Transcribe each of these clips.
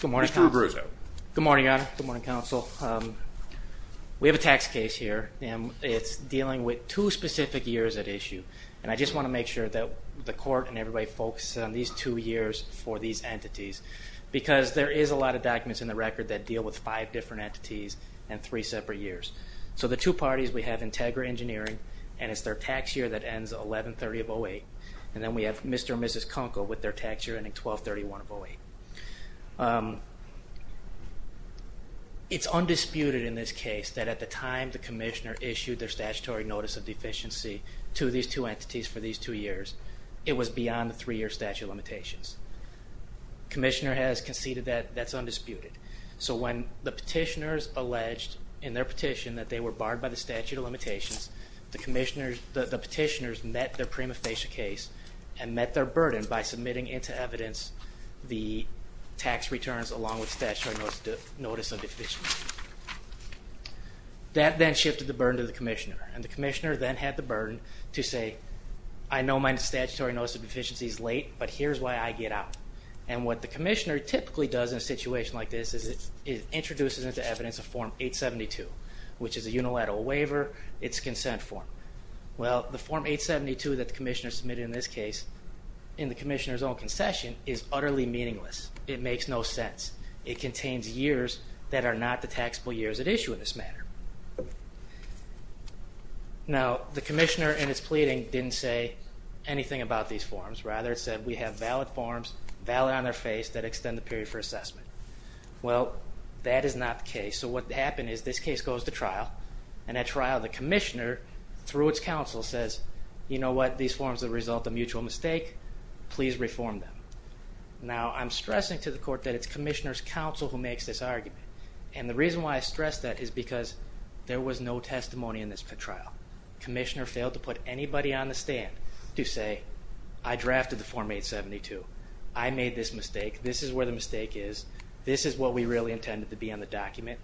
Good morning, Your Honor. Good morning, Counsel. We have a tax case here, and it's dealing with two specific years at issue. And I just want to make sure that the Court and everybody focuses on these two years for these entities, because there is a lot of documents in the record that deal with five different entities and three separate years. So the two parties, we have Integra Engineering, and it's their tax year that ends 11-30-08. And then we have Mr. and Mrs. Kunkel with their tax year ending 12-31-08. It's undisputed in this case that at the time the Commissioner issued their statutory notice of deficiency to these two entities for these two years, it was beyond the three-year statute of limitations. The Commissioner has conceded that that's undisputed. So when the petitioners alleged in their petition that they were barred by the statute of limitations, the petitioners met their prima facie case and met their burden by submitting into evidence the tax returns along with statutory notice of deficiency. That then shifted the burden to the Commissioner, and the Commissioner then had the burden to say, I know my statutory notice of deficiency is late, but here's why I get out. And what the Commissioner typically does in a situation like this is it introduces into evidence a Form 872, which is a unilateral waiver. It's a consent form. Well, the Form 872 that the Commissioner submitted in this case, in the Commissioner's own concession, is utterly meaningless. It makes no sense. It contains years that are not the taxable years at issue in this matter. Now, the Commissioner in its pleading didn't say anything about these forms. Rather, it said we have valid forms, valid on their face, that extend the period for assessment. Well, that is not the case. So what happened is this case goes to trial, and at trial, the Commissioner, through its counsel, says, You know what? These forms are the result of mutual mistake. Please reform them. Now, I'm stressing to the Court that it's Commissioner's counsel who makes this argument. And the reason why I stress that is because there was no testimony in this trial. The Commissioner failed to put anybody on the stand to say, I drafted the Form 872. I made this mistake. This is where the mistake is. This is what we really intended to be on the document.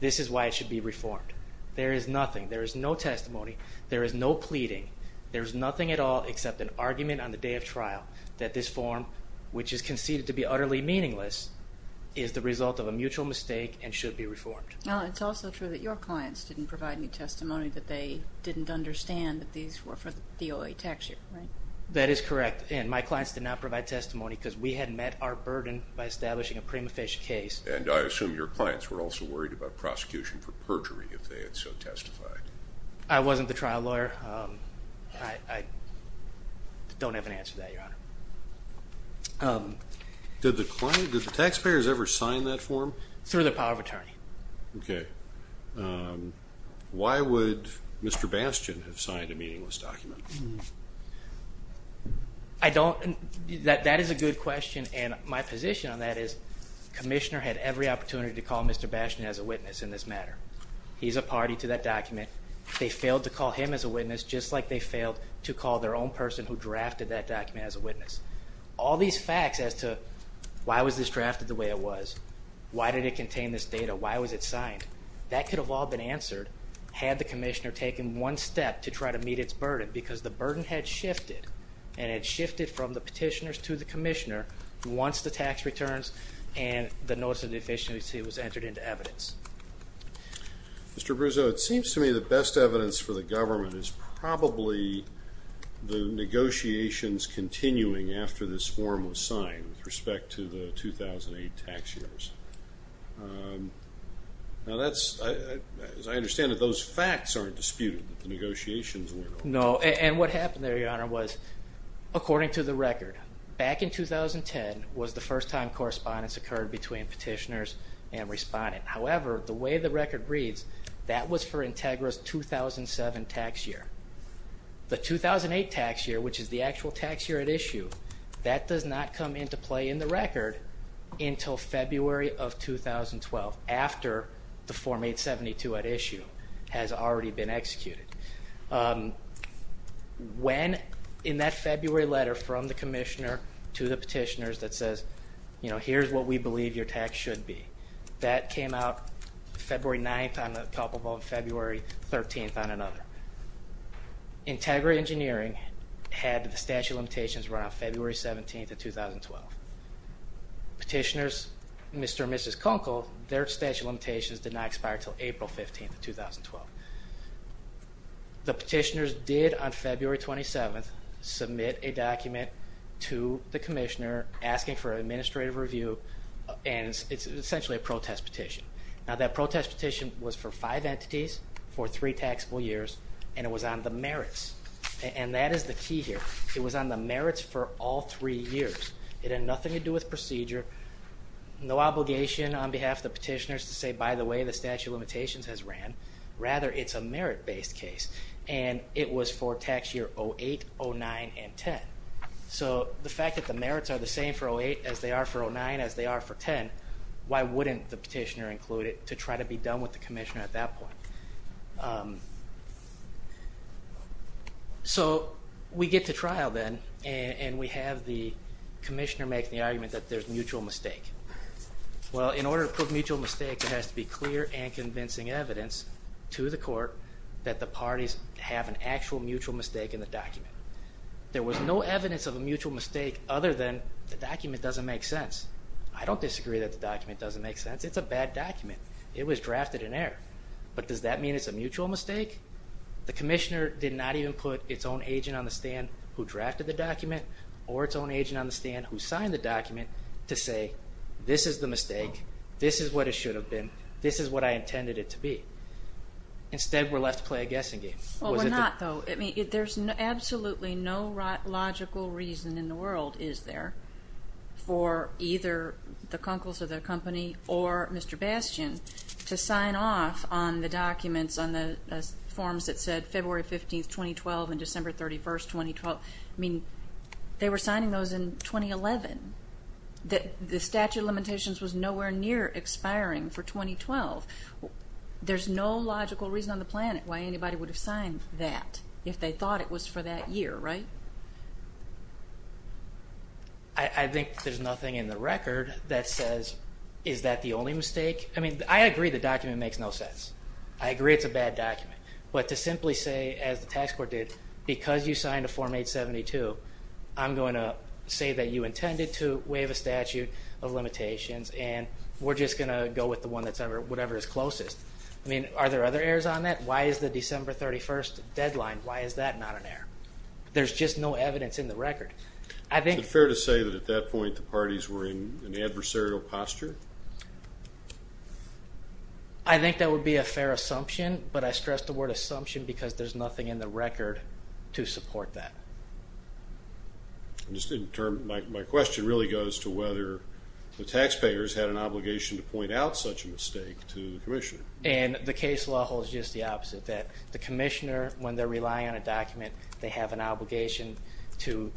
This is why it should be reformed. There is nothing. There is no testimony. There is no pleading. There is nothing at all except an argument on the day of trial that this form, which is conceded to be utterly meaningless, is the result of a mutual mistake and should be reformed. Now, it's also true that your clients didn't provide any testimony, that they didn't understand that these were for the OA tax year, right? That is correct. And my clients did not provide testimony because we had met our burden by establishing a prima facie case. And I assume your clients were also worried about prosecution for perjury if they had so testified. I wasn't the trial lawyer. I don't have an answer to that, Your Honor. Did the taxpayers ever sign that form? Through the power of attorney. Okay. Why would Mr. Bastian have signed a meaningless document? I don't. That is a good question. And my position on that is Commissioner had every opportunity to call Mr. Bastian as a witness in this matter. He's a party to that document. They failed to call him as a witness just like they failed to call their own person who drafted that document as a witness. All these facts as to why was this drafted the way it was, why did it contain this data, why was it signed, that could have all been answered had the Commissioner taken one step to try to meet its burden because the burden had shifted and it shifted from the petitioners to the Commissioner once the tax returns and the Notice of Deficiency was entered into evidence. Mr. Bruzzo, it seems to me the best evidence for the government is probably the negotiations continuing after this form was signed with respect to the 2008 tax years. Now that's, as I understand it, those facts aren't disputed that the negotiations weren't over. No, and what happened there, Your Honor, was according to the record, back in 2010 was the first time correspondence occurred between petitioners and respondents. However, the way the record reads, that was for Integra's 2007 tax year. The 2008 tax year, which is the actual tax year at issue, that does not come into play in the record until February of 2012, after the Form 872 at issue has already been executed. When, in that February letter from the Commissioner to the petitioners that says, you know, here's what we believe your tax should be, that came out February 9th on a couple of them, February 13th on another. Integra Engineering had the statute of limitations run on February 17th of 2012. Petitioners, Mr. and Mrs. Conkle, their statute of limitations did not expire until April 15th of 2012. The petitioners did, on February 27th, submit a document to the Commissioner asking for an administrative review, and it's essentially a protest petition. Now that protest petition was for five entities, for three taxable years, and it was on the merits. And that is the key here. It was on the merits for all three years. It had nothing to do with procedure, no obligation on behalf of the petitioners to say, by the way, the statute of limitations has ran. Rather, it's a merit-based case, and it was for tax year 08, 09, and 10. So the fact that the merits are the same for 08 as they are for 09 as they are for 10, why wouldn't the petitioner include it to try to be done with the Commissioner at that point? So we get to trial then, and we have the Commissioner make the argument that there's mutual mistake. Well, in order to prove mutual mistake, it has to be clear and convincing evidence to the court that the parties have an actual mutual mistake in the document. There was no evidence of a mutual mistake other than the document doesn't make sense. I don't disagree that the document doesn't make sense. It's a bad document. It was drafted in error. But does that mean it's a mutual mistake? The Commissioner did not even put its own agent on the stand who drafted the document or its own agent on the stand who signed the document to say, this is the mistake, this is what it should have been, this is what I intended it to be. Instead, we're left to play a guessing game. Well, we're not, though. There's absolutely no logical reason in the world, is there, for either the Kunkels or their company or Mr. Bastian to sign off on the documents, on the forms that said February 15, 2012 and December 31, 2012. I mean, they were signing those in 2011. The statute of limitations was nowhere near expiring for 2012. There's no logical reason on the planet why anybody would have signed that if they thought it was for that year, right? I think there's nothing in the record that says, is that the only mistake? I mean, I agree the document makes no sense. I agree it's a bad document. But to simply say, as the tax court did, because you signed a Form 872, I'm going to say that you intended to waive a statute of limitations and we're just going to go with the one that's whatever is closest. I mean, are there other errors on that? Why is the December 31 deadline, why is that not an error? There's just no evidence in the record. Is it fair to say that at that point the parties were in an adversarial posture? I think that would be a fair assumption, but I stress the word assumption because there's nothing in the record to support that. My question really goes to whether the taxpayers had an obligation to point out such a mistake to the commissioner. And the case law holds just the opposite, that the commissioner, when they're relying on a document, they have an obligation to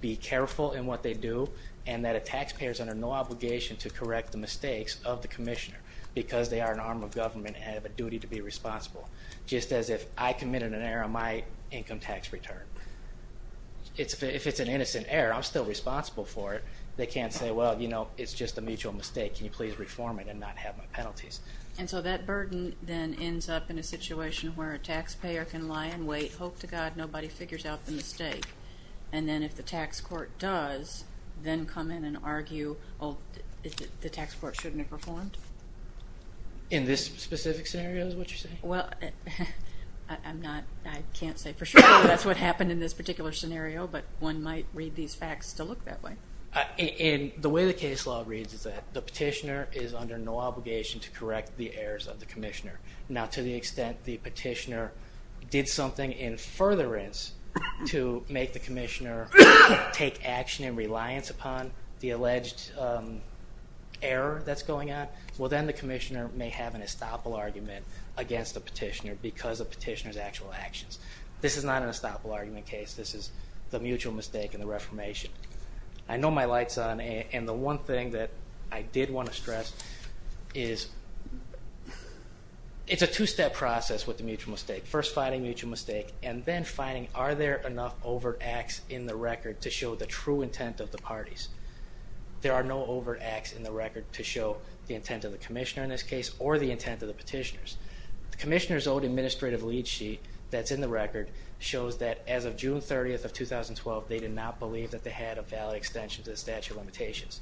be careful in what they do and that a taxpayer is under no obligation to correct the mistakes of the commissioner because they are an arm of government and have a duty to be responsible, just as if I committed an error on my income tax return. If it's an innocent error, I'm still responsible for it. They can't say, well, you know, it's just a mutual mistake. Can you please reform it and not have my penalties? And so that burden then ends up in a situation where a taxpayer can lie in wait, hope to God nobody figures out the mistake, and then if the tax court does, then come in and argue, oh, the tax court shouldn't have reformed? In this specific scenario is what you're saying? Well, I can't say for sure that's what happened in this particular scenario, but one might read these facts to look that way. And the way the case law reads is that the petitioner is under no obligation to correct the errors of the commissioner. Now, to the extent the petitioner did something in furtherance to make the commissioner take action in reliance upon the alleged error that's going on, well, then the commissioner may have an estoppel argument against the petitioner because of the petitioner's actual actions. This is not an estoppel argument case. This is the mutual mistake and the reformation. I know my light's on, and the one thing that I did want to stress is it's a two-step process with the mutual mistake, first finding a mutual mistake and then finding are there enough overt acts in the record to show the true intent of the parties. There are no overt acts in the record to show the intent of the commissioner in this case or the intent of the petitioners. The commissioner's old administrative lead sheet that's in the record shows that as of June 30th of 2012 they did not believe that they had a valid extension to the statute of limitations.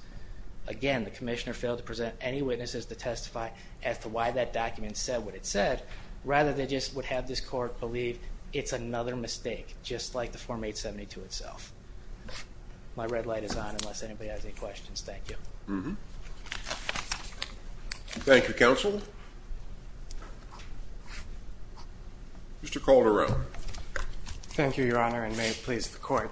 Again, the commissioner failed to present any witnesses to testify as to why that document said what it said, rather they just would have this court believe it's another mistake, just like the Form 872 itself. My red light is on unless anybody has any questions. Thank you. Thank you, counsel. Mr. Calderon. Thank you, Your Honor, and may it please the court.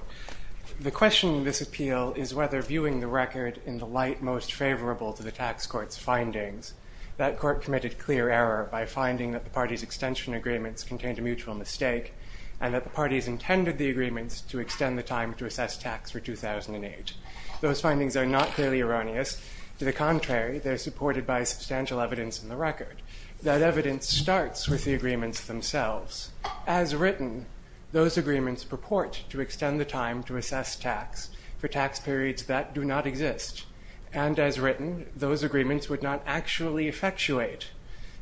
The question in this appeal is whether viewing the record in the light most favorable to the tax court's findings, that court committed clear error by finding that the parties' extension agreements contained a mutual mistake and that the parties intended the agreements to extend the time to assess tax for 2008. Those findings are not clearly erroneous. To the contrary, they're supported by substantial evidence in the record. That evidence starts with the agreements themselves. As written, those agreements purport to extend the time to assess tax for tax periods that do not exist. And as written, those agreements would not actually effectuate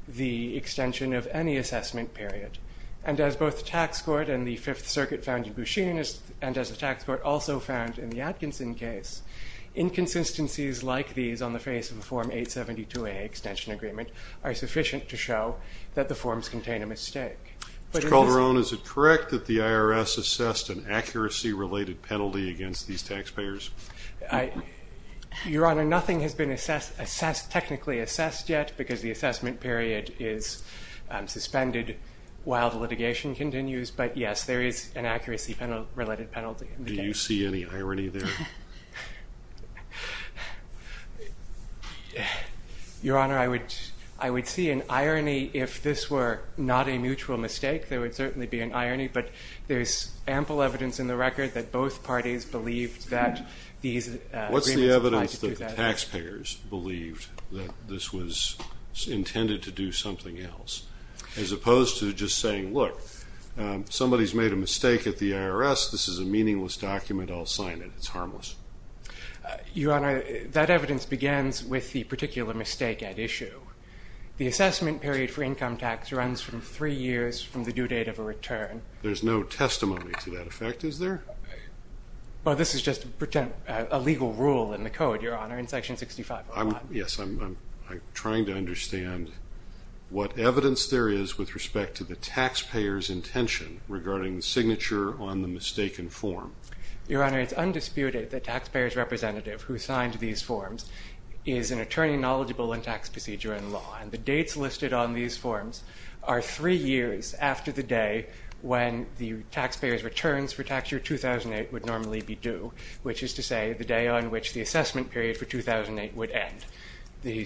the extension of any assessment period. And as both the tax court and the Fifth Circuit found in Busheen and as the tax court also found in the Atkinson case, inconsistencies like these on the face of a Form 872A extension agreement are sufficient to show that the forms contain a mistake. Mr. Calderon, is it correct that the IRS assessed an accuracy-related penalty against these taxpayers? Your Honor, nothing has been assessed, technically assessed yet because the assessment period is suspended while the litigation continues. But, yes, there is an accuracy-related penalty. Do you see any irony there? Your Honor, I would see an irony if this were not a mutual mistake. There would certainly be an irony. But there's ample evidence in the record that both parties believed that these agreements applied to 2008. Both taxpayers believed that this was intended to do something else, as opposed to just saying, look, somebody's made a mistake at the IRS, this is a meaningless document, I'll sign it. It's harmless. Your Honor, that evidence begins with the particular mistake at issue. The assessment period for income tax runs from three years from the due date of a return. There's no testimony to that effect, is there? Well, this is just a legal rule in the Code, Your Honor, in Section 65. Yes, I'm trying to understand what evidence there is with respect to the taxpayer's intention regarding the signature on the mistaken form. Your Honor, it's undisputed that the taxpayer's representative who signed these forms is an attorney knowledgeable in tax procedure and law. And the dates listed on these forms are three years after the day when the taxpayer's returns for tax year 2008 would normally be due, which is to say the day on which the assessment period for 2008 would end. The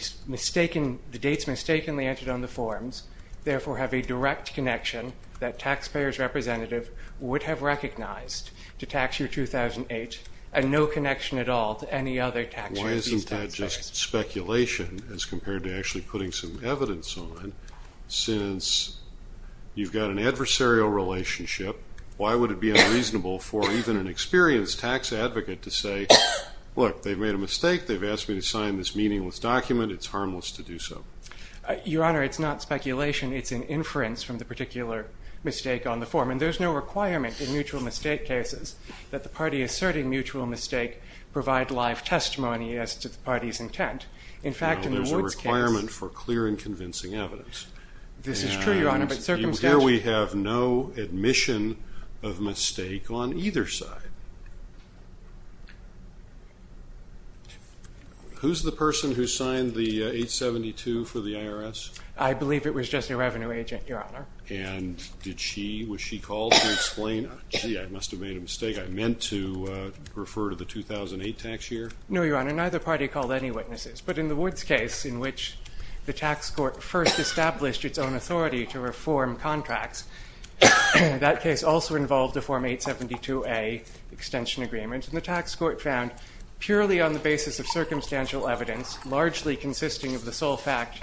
dates mistakenly entered on the forms, therefore, have a direct connection that taxpayer's representative would have recognized to tax year 2008 and no connection at all to any other tax year. Why isn't that just speculation as compared to actually putting some evidence on it, since you've got an adversarial relationship? Why would it be unreasonable for even an experienced tax advocate to say, Look, they've made a mistake. They've asked me to sign this meaningless document. It's harmless to do so. Your Honor, it's not speculation. It's an inference from the particular mistake on the form. And there's no requirement in mutual mistake cases that the party asserting mutual mistake provide live testimony as to the party's intent. There's a requirement for clear and convincing evidence. This is true, Your Honor. Here we have no admission of mistake on either side. Who's the person who signed the 872 for the IRS? I believe it was just a revenue agent, Your Honor. And was she called to explain, Gee, I must have made a mistake. I meant to refer to the 2008 tax year. No, Your Honor. Neither party called any witnesses. But in the Woods case, in which the tax court first established its own authority to reform contracts, that case also involved a Form 872A extension agreement. And the tax court found, purely on the basis of circumstantial evidence, largely consisting of the sole fact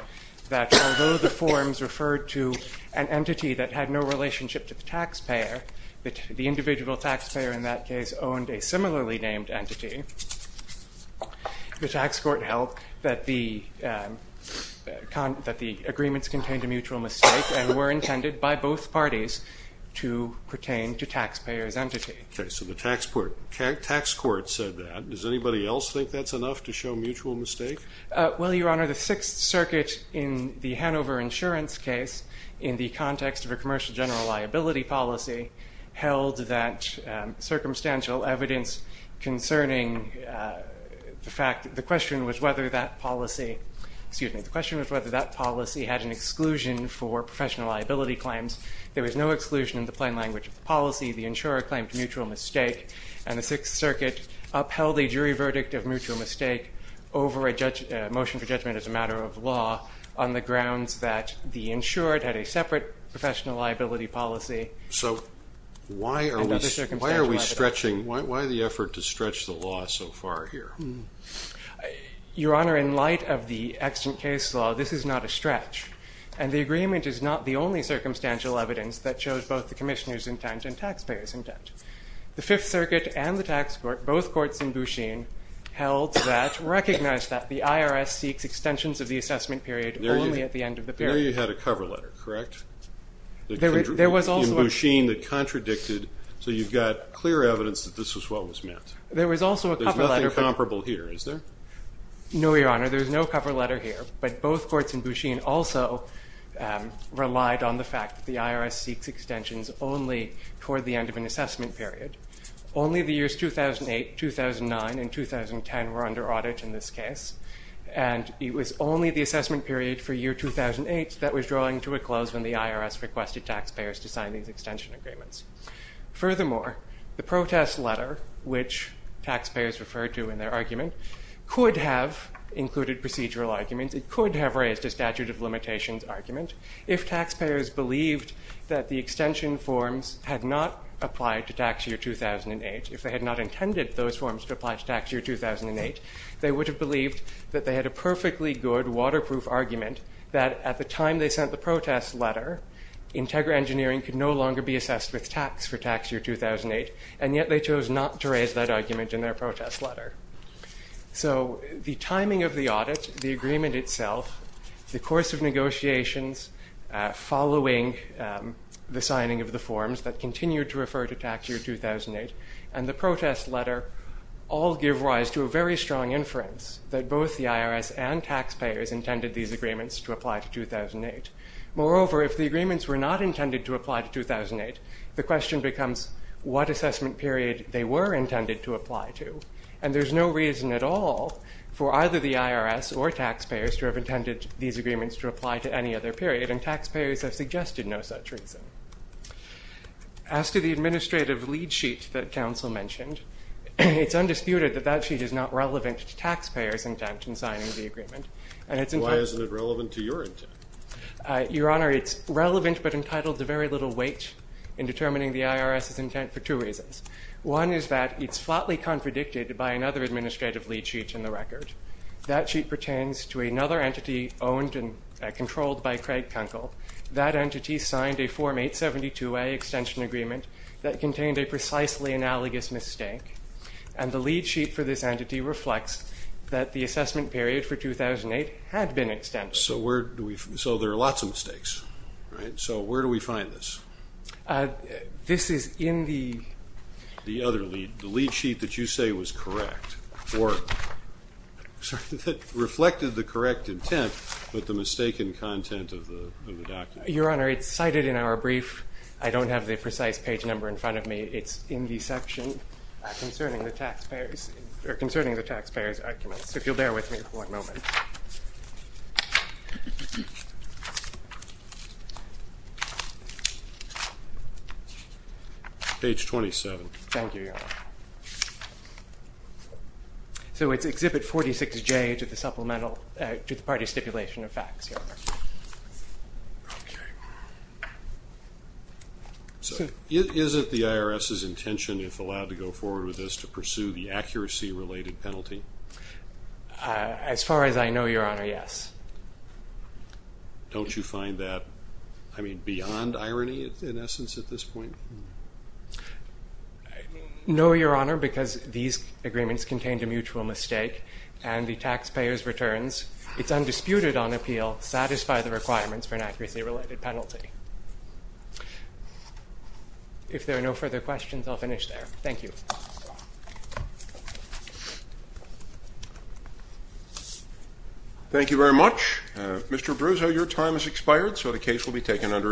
that, although the forms referred to an entity that had no relationship to the taxpayer, the individual taxpayer in that case owned a similarly named entity, the tax court held that the agreements contained a mutual mistake and were intended by both parties to pertain to taxpayer's entity. Okay. So the tax court said that. Does anybody else think that's enough to show mutual mistake? Well, Your Honor, the Sixth Circuit in the Hanover insurance case, in the context of a commercial general liability policy, held that circumstantial evidence concerning the fact that the question was whether that policy had an exclusion for professional liability claims. There was no exclusion in the plain language of the policy. The insurer claimed mutual mistake, and the Sixth Circuit upheld a jury verdict of mutual mistake over a motion for professional liability policy. So why are we stretching? Why the effort to stretch the law so far here? Your Honor, in light of the extant case law, this is not a stretch. And the agreement is not the only circumstantial evidence that shows both the commissioner's intent and taxpayer's intent. The Fifth Circuit and the tax court, both courts in Busheen, held that, recognized that, the IRS seeks extensions of the assessment period only at the end of the period. I know you had a cover letter, correct? In Busheen that contradicted, so you've got clear evidence that this is what was meant. There was also a cover letter. There's nothing comparable here, is there? No, Your Honor, there's no cover letter here. But both courts in Busheen also relied on the fact that the IRS seeks extensions only toward the end of an assessment period. Only the years 2008, 2009, and 2010 were under audit in this case. And it was only the assessment period for year 2008 that was drawing to a close when the IRS requested taxpayers to sign these extension agreements. Furthermore, the protest letter, which taxpayers referred to in their argument, could have included procedural arguments. It could have raised a statute of limitations argument. If taxpayers believed that the extension forms had not applied to tax year 2008, if they had not intended those forms to apply to tax year 2008, they would have believed that they had a perfectly good waterproof argument that at the time they sent the protest letter, Integra Engineering could no longer be assessed with tax for tax year 2008, and yet they chose not to raise that argument in their protest letter. So the timing of the audit, the agreement itself, the course of negotiations following the signing of the forms that continued to refer to tax year 2008, and the protest letter all give rise to a very strong inference that both the IRS and taxpayers intended these agreements to apply to 2008. Moreover, if the agreements were not intended to apply to 2008, the question becomes what assessment period they were intended to apply to. And there's no reason at all for either the IRS or taxpayers to have intended these agreements to apply to any other period, and taxpayers have suggested no such reason. As to the administrative lead sheet that counsel mentioned, it's undisputed that that sheet is not relevant to taxpayers' intent in signing the agreement. Why isn't it relevant to your intent? Your Honor, it's relevant but entitled to very little weight in determining the IRS's intent for two reasons. One is that it's flatly contradicted by another administrative lead sheet in the record. That sheet pertains to another entity owned and controlled by Craig Kunkel. That entity signed a Form 872A extension agreement that contained a precisely analogous mistake, and the lead sheet for this entity reflects that the assessment period for 2008 had been extended. So there are lots of mistakes, right? So where do we find this? This is in the other lead sheet that you say was correct or that reflected the correct intent but the mistaken content of the document. Your Honor, it's cited in our brief. I don't have the precise page number in front of me. It's in the section concerning the taxpayers' arguments, if you'll bear with me for one moment. Page 27. Thank you, Your Honor. So it's Exhibit 46J to the party stipulation of facts, Your Honor. So is it the IRS's intention, if allowed to go forward with this, to pursue the accuracy-related penalty? As far as I know, Your Honor, yes. Don't you find that, I mean, beyond irony, in essence, at this point? No, Your Honor, because these agreements contained a mutual mistake and the taxpayers' returns. It's undisputed on appeal to satisfy the requirements for an accuracy-related penalty. If there are no further questions, I'll finish there. Thank you. Thank you very much. Mr. Bruzzo, your time has expired, so the case will be taken under advisory.